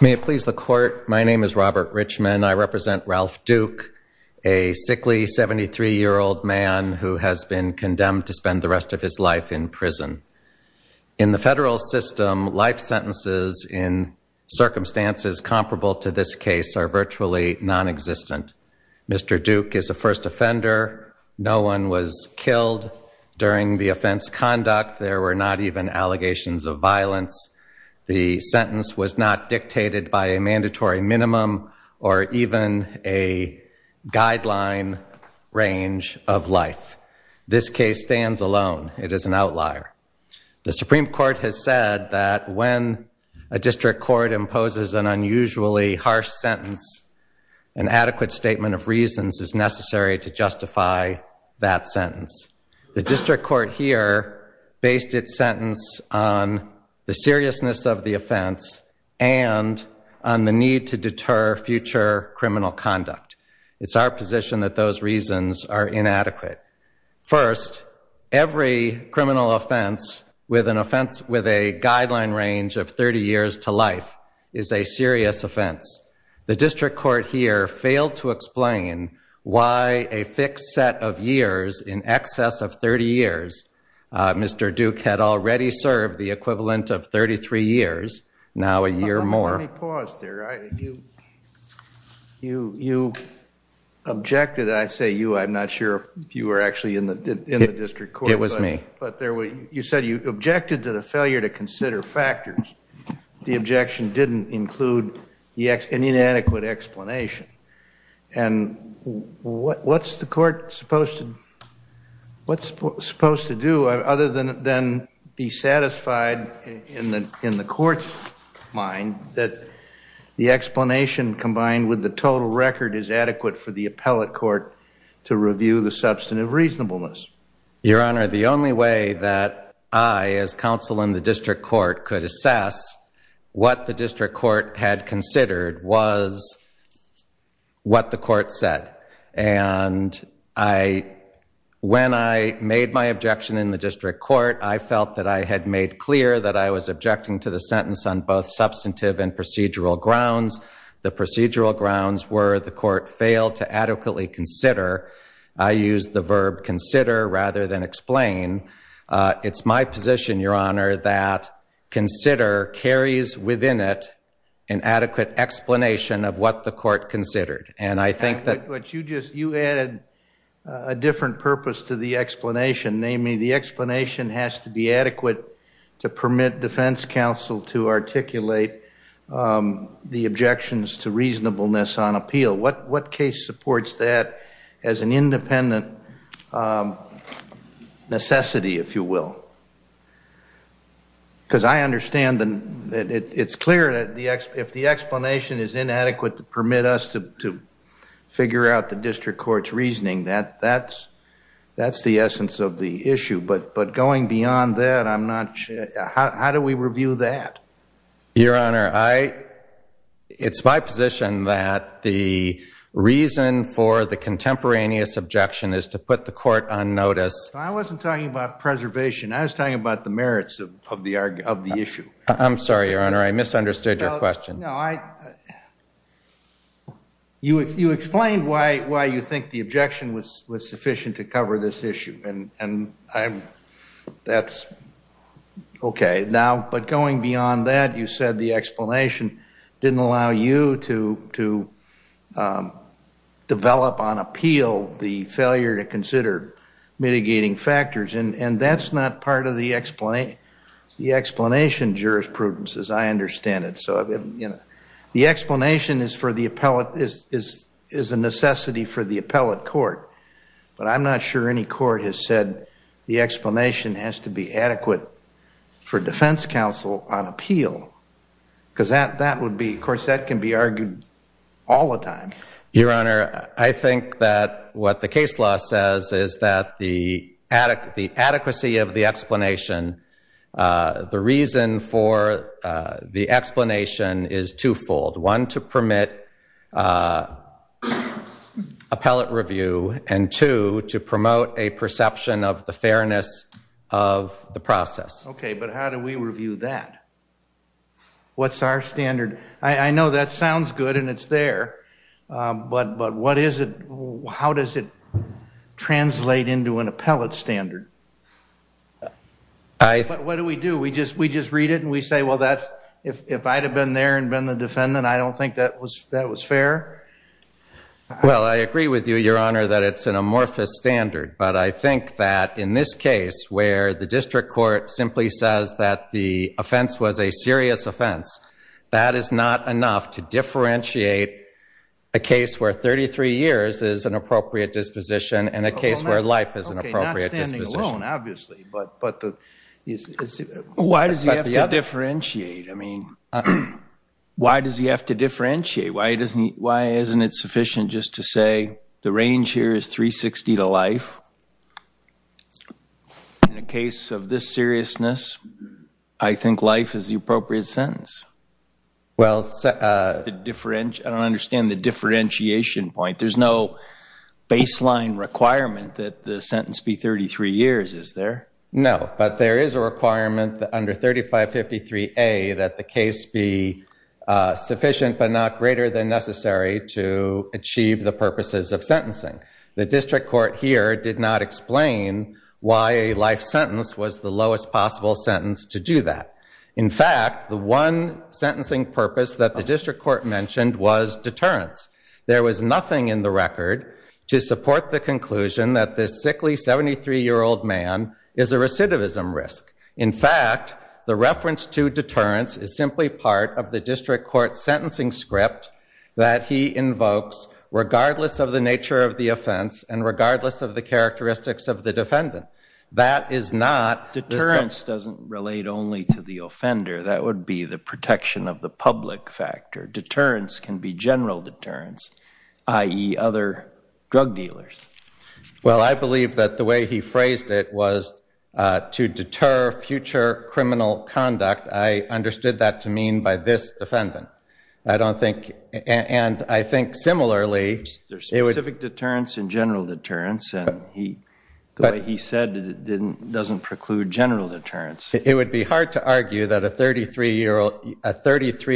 May it please the court, my name is Robert Richman. I represent Ralph Duke, a sickly 73-year-old man who has been condemned to spend the rest of his life in prison. In the federal system, life sentences in circumstances comparable to this case are virtually non-existent. Mr. Duke is a first offender. No one was The sentence was not dictated by a mandatory minimum or even a guideline range of life. This case stands alone. It is an outlier. The Supreme Court has said that when a district court imposes an unusually harsh sentence, an adequate statement of reasons is necessary to justify that sentence. The district court here based its sentence on the seriousness of the offense and on the need to deter future criminal conduct. It's our position that those reasons are inadequate. First, every criminal offense with an offense with a guideline range of 30 years to life is a serious offense. The district court here failed to Mr. Duke had already served the equivalent of 33 years, now a year more. Let me pause there. You objected, I'd say you, I'm not sure if you were actually in the district court. It was me. But there were, you said you objected to the failure to consider factors. The objection didn't include an inadequate explanation. And what, what's the court supposed to, what's supposed to do other than then be satisfied in the, in the court's mind that the explanation combined with the total record is adequate for the appellate court to review the substantive reasonableness? Your Honor, the only way that I as counsel in the district court could assess what the district court had considered was what the court said. And I, when I made my objection in the district court, I felt that I had made clear that I was objecting to the sentence on both substantive and procedural grounds. The procedural grounds were the court failed to adequately consider. I used the verb consider rather than explain. It's my position, Your Honor, that consider carries within it an adequate explanation of what the court considered. And I think that... But you just, you added a different purpose to the explanation. Namely, the explanation has to be adequate to permit defense counsel to articulate the objections to reasonableness on appeal. What, what case supports that as an independent necessity, if you will? Because I understand that it's clear that the, if the explanation is inadequate to permit us to figure out the district court's reasoning, that, that's, that's the essence of the issue. But, but going beyond that, I'm not sure, how do we review that? Your Honor, I, it's my position that the reason for the contemporaneous objection is to put the court on notice. I wasn't talking about I'm sorry, Your Honor, I misunderstood your question. No, I, you, you explained why, why you think the objection was, was sufficient to cover this issue. And, and I'm, that's okay. Now, but going beyond that, you said the explanation didn't allow you to, to develop on appeal the failure to consider mitigating factors. And, and that's not part of the explanation, the explanation jurisprudence, as I understand it. So, you know, the explanation is for the appellate, is, is, is a necessity for the appellate court. But I'm not sure any court has said the explanation has to be adequate for defense counsel on appeal. Because that, that would be, of course, that can be argued all the time. Your Honor, the adequacy of the explanation, the reason for the explanation is twofold. One, to permit appellate review. And two, to promote a perception of the fairness of the process. Okay, but how do we review that? What's our standard? I, I know that sounds good and it's there. But, but what is it, how does it translate into an appellate standard? I, what do we do? We just, we just read it and we say, well, that's, if, if I'd have been there and been the defendant, I don't think that was, that was fair? Well, I agree with you, Your Honor, that it's an amorphous standard. But I think that in this case, where the district court simply says that the offense was a serious offense, that is not enough to differentiate a case where 33 years is an appropriate disposition and a case where life is an appropriate disposition. Okay, not standing alone, obviously, but, but the, why does he have to differentiate? I mean, why does he have to differentiate? Why doesn't he, why isn't it sufficient just to say the range here is 360 to life? In a case of this seriousness, I think life is the appropriate sentence. Well, I don't understand the differentiation point. There's no baseline requirement that the sentence be 33 years, is there? No, but there is a requirement that under 3553A that the case be sufficient but not greater than necessary to achieve the purposes of sentencing. The district court here did not explain why a life sentence was the lowest possible sentence to do that. In fact, the one sentencing purpose that the district court mentioned was deterrence. There was a sickly 73-year-old man is a recidivism risk. In fact, the reference to deterrence is simply part of the district court sentencing script that he invokes regardless of the nature of the offense and regardless of the characteristics of the defendant. That is not... Deterrence doesn't relate only to the offender, that would be the protection of the public factor. Deterrence can be general deterrence, i.e. other drug dealers. Well, I believe that the way he phrased it was to deter future criminal conduct. I understood that to mean by this defendant. I don't think... and I think similarly... There's specific deterrence and general deterrence and he... the way he said it doesn't preclude general deterrence. It would be hard to argue that a 33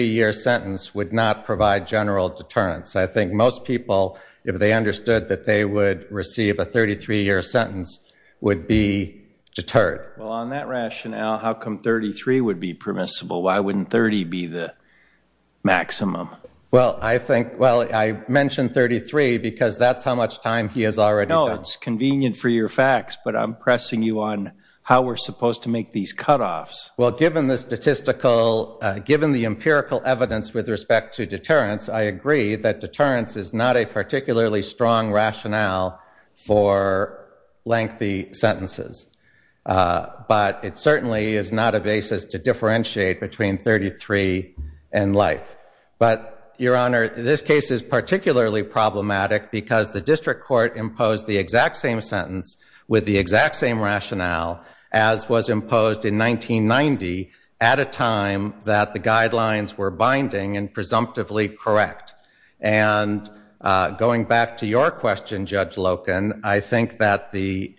year sentence would not provide general deterrence. I think most people, if they understood that they would receive a 33 year sentence, would be deterred. Well, on that rationale, how come 33 would be permissible? Why wouldn't 30 be the maximum? Well, I think... well, I mentioned 33 because that's how much time he has already done. No, it's convenient for your facts, but I'm pressing you on how we're supposed to make these cutoffs. Well, given the statistical... given the empirical evidence with respect to deterrence, I agree that deterrence is not a particularly strong rationale for lengthy sentences, but it certainly is not a basis to differentiate between 33 and life. But, Your Honor, this case is particularly problematic because the district court imposed the exact same sentence with the exact same rationale as was imposed in 1990 at a time that the guidelines were binding and presumptively correct. And going back to your question, Judge Loken, I think that the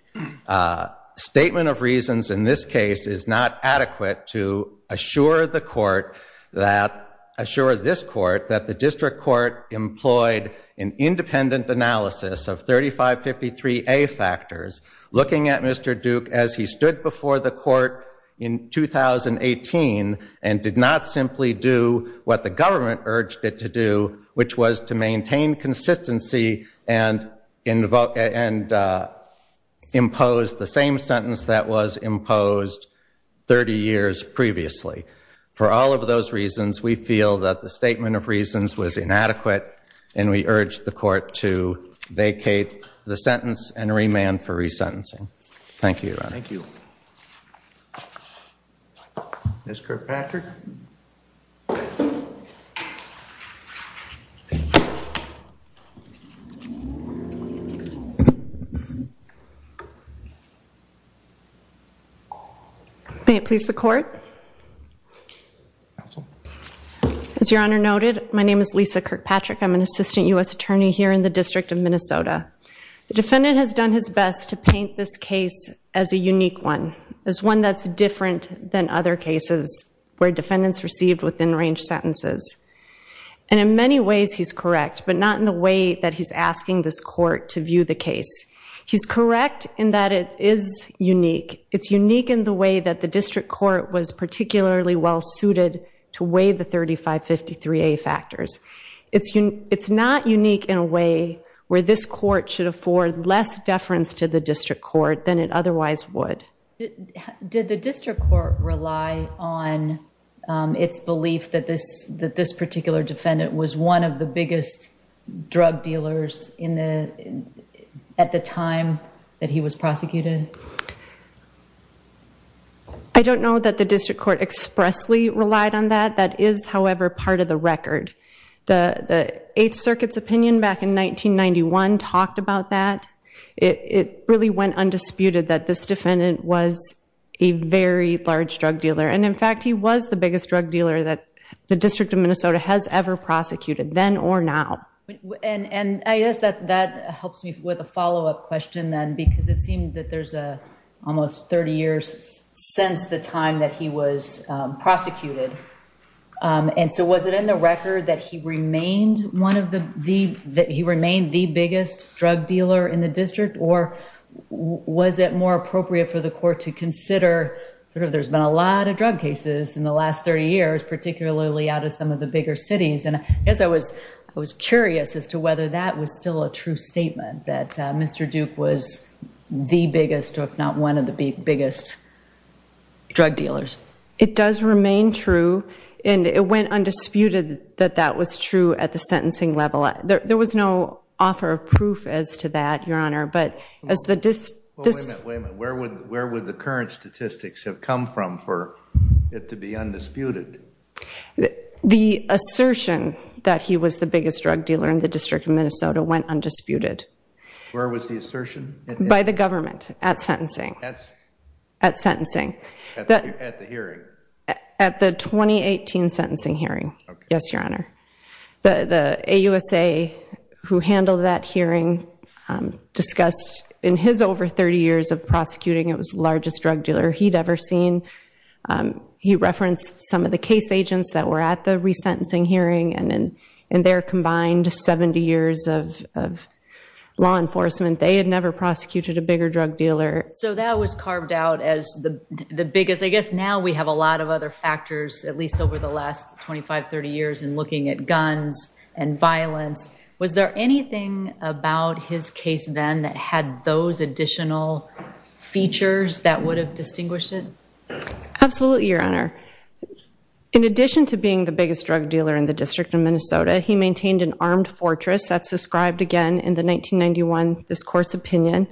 statement of reasons in this case is not adequate to assure the court that... assure this court that the district court employed an independent analysis of 3553A factors, looking at Mr. Duke as he was in 2018, and did not simply do what the government urged it to do, which was to maintain consistency and impose the same sentence that was imposed 30 years previously. For all of those reasons, we feel that the statement of reasons was inadequate, and we urge the court to vacate the sentence and re-sentencing. Thank you. Thank you. Ms. Kirkpatrick. May it please the court. As Your Honor noted, my name is Lisa Kirkpatrick. I'm an assistant U.S. attorney here in the District of Minnesota. The defendant has done his best to paint this case as a unique one, as one that's different than other cases where defendants received within-range sentences. And in many ways he's correct, but not in the way that he's asking this court to view the case. He's correct in that it is unique. It's unique in the way that the district court was particularly well suited to weigh the 3553A factors. It's not unique in a way where this court should afford less deference to the district court than it otherwise would. Did the district court rely on its belief that this particular defendant was one of the biggest drug dealers at the time that he was prosecuted? I don't know that the district court expressly relied on that. That is, however, part of the record. The Eighth Circuit's opinion back in 1991 talked about that. It really went undisputed that this defendant was a very large drug dealer. And in fact he was the biggest drug dealer that the District of Minnesota has ever prosecuted, then or now. And I guess that that helps me with a follow-up question then, because it seemed that there's a almost 30 years since the time that he was prosecuted. And so was it in the record that he remained one of the the that he remained the biggest drug dealer in the district? Or was it more appropriate for the court to consider sort of there's been a lot of drug cases in the last 30 years, particularly out of some of the bigger cities? And I guess I was I was curious as to whether that was still a true statement that Mr. Duke was the biggest, or if not one of the biggest, drug dealers. It does remain true and it went undisputed that that was true at the sentencing level. There was no offer of proof as to that, Your Honor, but as the... Wait a minute, where would the current statistics have come from for it to be undisputed? The assertion that he was the biggest drug dealer in the District of Minnesota went undisputed. Where was the By the government at sentencing. At sentencing. At the hearing? At the 2018 sentencing hearing. Yes, Your Honor. The AUSA who handled that hearing discussed in his over 30 years of prosecuting it was largest drug dealer he'd ever seen. He referenced some of the case agents that were at the resentencing hearing and in their combined 70 years of law enforcement, they had never prosecuted a bigger drug dealer. So that was carved out as the the biggest... I guess now we have a lot of other factors, at least over the last 25-30 years, in looking at guns and violence. Was there anything about his case then that had those additional features that would have distinguished it? Absolutely, Your Honor. In the District of Minnesota, he maintained an armed fortress that's described again in the 1991 discourse opinion.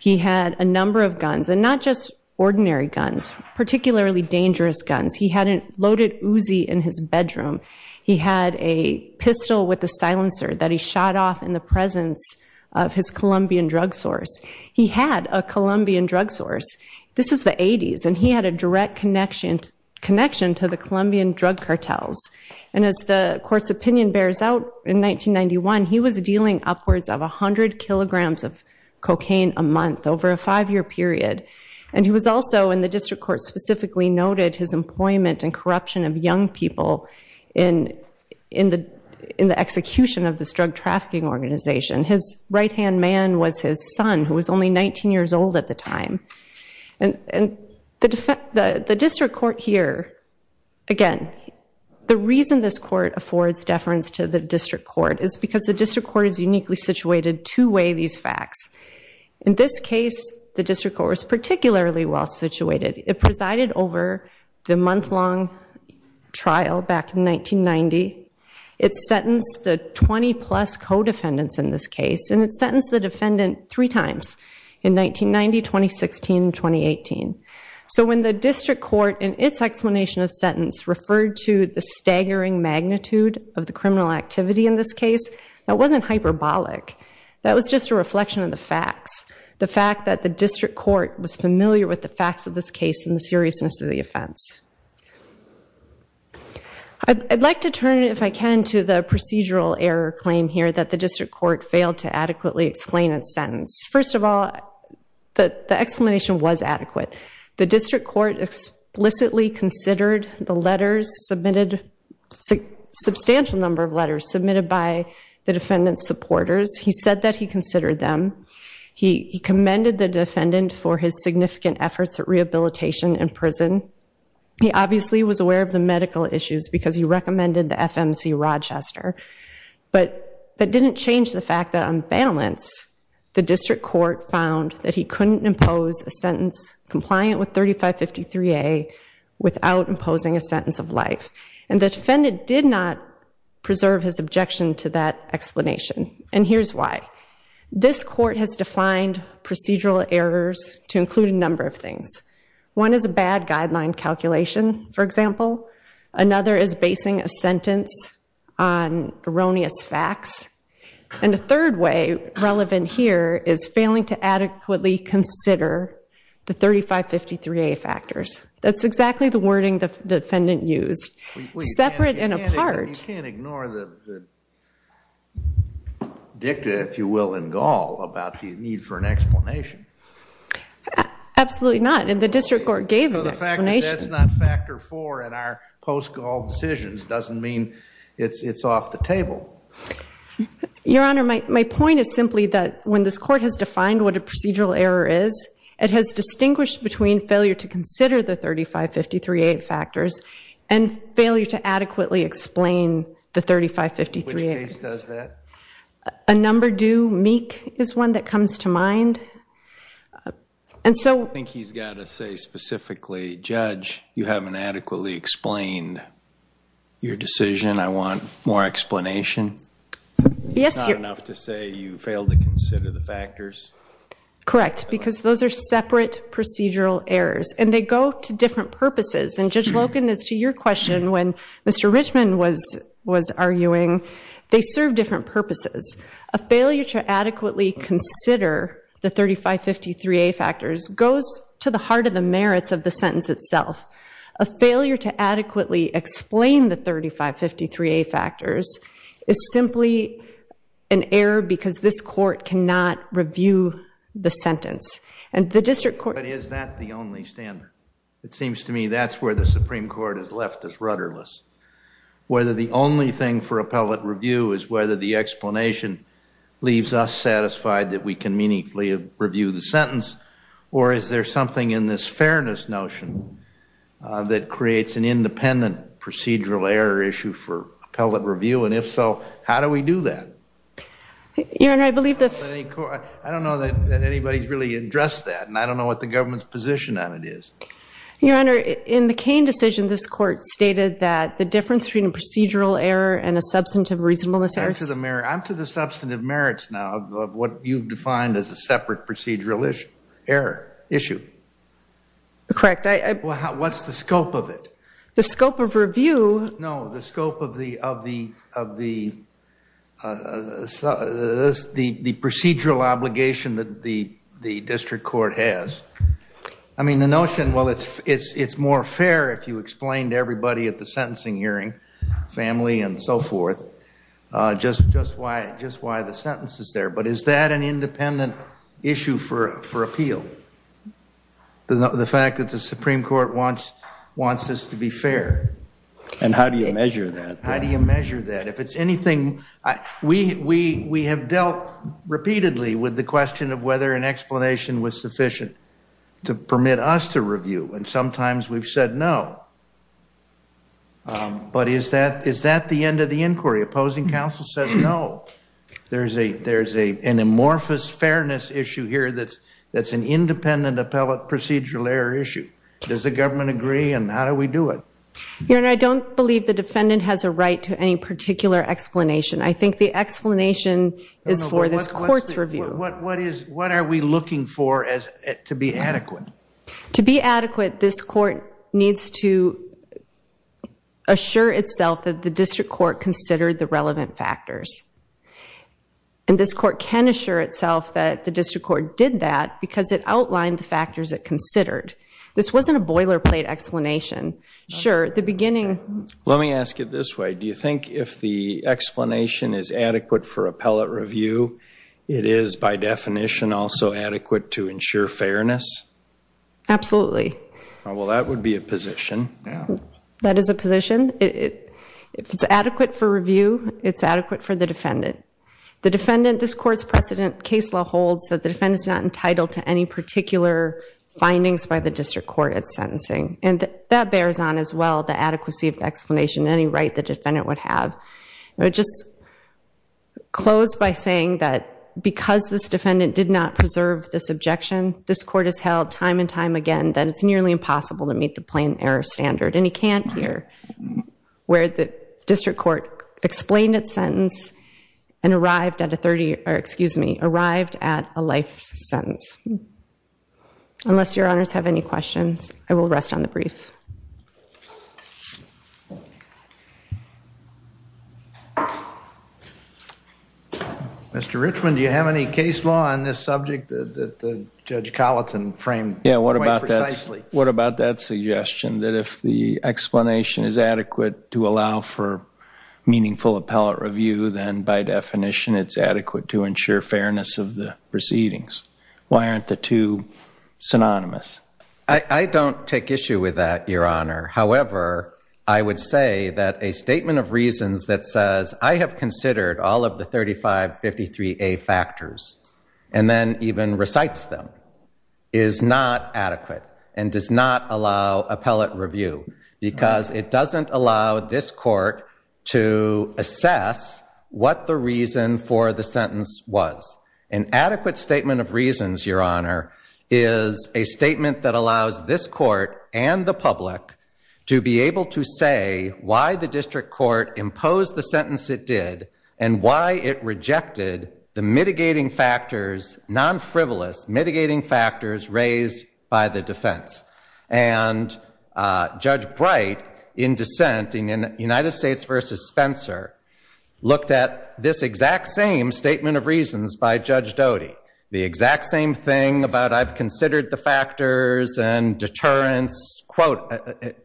He had a number of guns and not just ordinary guns, particularly dangerous guns. He had a loaded Uzi in his bedroom. He had a pistol with a silencer that he shot off in the presence of his Colombian drug source. He had a Colombian drug source. This is the 80s and he had a direct connection to the Colombian drug cartels. And as the court's opinion bears out in 1991, he was dealing upwards of a hundred kilograms of cocaine a month over a five-year period. And he was also, in the district court specifically noted, his employment and corruption of young people in the execution of this drug trafficking organization. His right-hand man was his son who was only 19 years old at the time. And the district court here, again, the reason this court affords deference to the district court is because the district court is uniquely situated to weigh these facts. In this case, the district court was particularly well situated. It presided over the month-long trial back in 1990. It sentenced the 20-plus co-defendants in this case and it in 1990, 2016, and 2018. So when the district court in its explanation of sentence referred to the staggering magnitude of the criminal activity in this case, that wasn't hyperbolic. That was just a reflection of the facts. The fact that the district court was familiar with the facts of this case and the seriousness of the offense. I'd like to turn, if I can, to the procedural error claim here that the district court failed to adequately explain its The explanation was adequate. The district court explicitly considered the letters submitted, a substantial number of letters submitted by the defendant's supporters. He said that he considered them. He commended the defendant for his significant efforts at rehabilitation in prison. He obviously was aware of the medical issues because he recommended the FMC Rochester. But that didn't change the fact that, on balance, the district court found that he couldn't impose a sentence compliant with 3553A without imposing a sentence of life. And the defendant did not preserve his objection to that explanation. And here's why. This court has defined procedural errors to include a number of things. One is a bad guideline calculation, for example. Another is basing a sentence on erroneous facts. And the third way, relevant here, is failing to adequately consider the 3553A factors. That's exactly the wording the defendant used. Separate and apart. You can't ignore the dicta, if you will, in Gaul about the need for an explanation. Absolutely not. And the district court gave an explanation. So the fact that that's not factor four in our post-Gaul decisions doesn't mean it's off the table. Your Honor, my point is simply that when this court has defined what a procedural error is, it has distinguished between failure to consider the 3553A factors and failure to adequately explain the 3553A factors. Which case does that? A number due, meek, is one that comes to mind. And so... I think he's got to say specifically, Judge, you haven't adequately explained your decision. I want more explanation. It's not enough to say you failed to consider the factors? Correct. Because those are separate procedural errors. And they go to different purposes. And Judge Loken, as to your question, when Mr. Richman was arguing, they serve different purposes. A failure to adequately consider the 3553A factors goes to the heart of the merits of the sentence itself. A failure to adequately explain the 3553A factors is simply an error because this court cannot review the sentence. And the district court... But is that the only standard? It seems to me that's where the Supreme Court has left us rudderless. Whether the only thing for appellate review is whether the explanation leaves us satisfied that we can meaningfully review the sentence, or is there something in this fairness notion that creates an independent procedural error issue for appellate review? And if so, how do we do that? Your Honor, I believe the... I don't know that anybody's really addressed that. And I don't know what the government's position on it is. Your Honor, in the Cain decision, this court stated that the difference between a procedural error and a substantive reasonableness error... I'm to the substantive merits now of what you've defined as a separate procedural issue. Correct. What's the scope of it? The scope of review... No, the scope of the procedural obligation that the district court has. I mean, the notion, well, it's more fair if you explain to everybody at the sentencing hearing, family and so forth, just why the sentence is there. But is that an independent issue for appeal? The fact that the Supreme Court wants this to be fair. And how do you measure that? How do you measure that? If it's anything... We have dealt repeatedly with the question of whether an explanation was sufficient to permit us to review. And sometimes we've said no. But is that the end of the inquiry? Opposing counsel says no. There's an amorphous fairness issue here that's an independent appellate procedural error issue. Does the government agree? And how do we do it? Your Honor, I don't believe the defendant has a right to any particular explanation. I think the explanation is for this court's review. What are we looking for to be adequate? To be adequate, this court needs to assure itself that the district court considered the relevant factors. And this court can assure itself that the district court did that because it outlined the factors it considered. This wasn't a boilerplate explanation. Sure, the beginning... Let me ask it this way. Do you think if the explanation is adequate for appellate review, it is by definition also adequate to ensure fairness? Absolutely. Well, that would be a position. That is a position. If it's adequate for review, it's adequate for the defendant. The defendant, this court's precedent case law holds that the defendant is not entitled to any particular findings by the district court at sentencing. And that bears on as well the adequacy of explanation. Any right the defendant would have. I would just close by saying that because this defendant did not preserve this objection, this court has held time and time again that it's standard. And you can't hear where the district court explained its sentence and arrived at a life sentence. Unless your honors have any questions, I will rest on the brief. Mr. Richman, do you have any case law on this subject that Judge Colleton framed quite precisely? What about that suggestion that if the explanation is adequate to allow for meaningful appellate review, then by definition it's adequate to ensure fairness of the proceedings? Why aren't the two synonymous? I don't take issue with that, your honor. However, I would say that a statement of reasons that says, I have considered all of the 3553A factors, and then even recites them, is not adequate and does not allow appellate review because it doesn't allow this court to assess what the reason for the sentence was. An adequate statement of reasons, your honor, is a statement that allows this court and the public to be able to say why the district court imposed the sentence it did and why it rejected the mitigating factors, non-frivolous mitigating factors raised by the defense. And Judge Bright, in dissent in United States v. Spencer, looked at this exact same statement of reasons by Judge Doty, the exact same thing about I've considered the factors and deterrence, quote,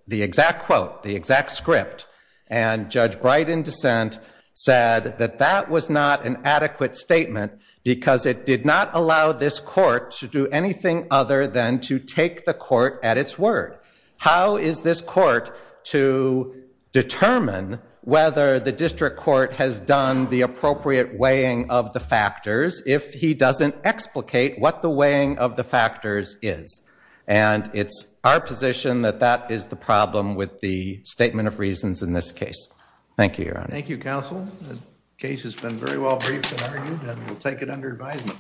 the exact quote, the exact script. And Judge Bright, in dissent, said that that was not an adequate statement because it did not allow this court to do anything other than to take the court at its word. How is this court to determine whether the district court has done the appropriate weighing of the factors if he doesn't explicate what the weighing of the factors is? And it's our position that that is the problem with the statement of reasons in this case. Thank you, your honor. Thank you, counsel. The case has been very well briefed and argued and we'll take it under advisement.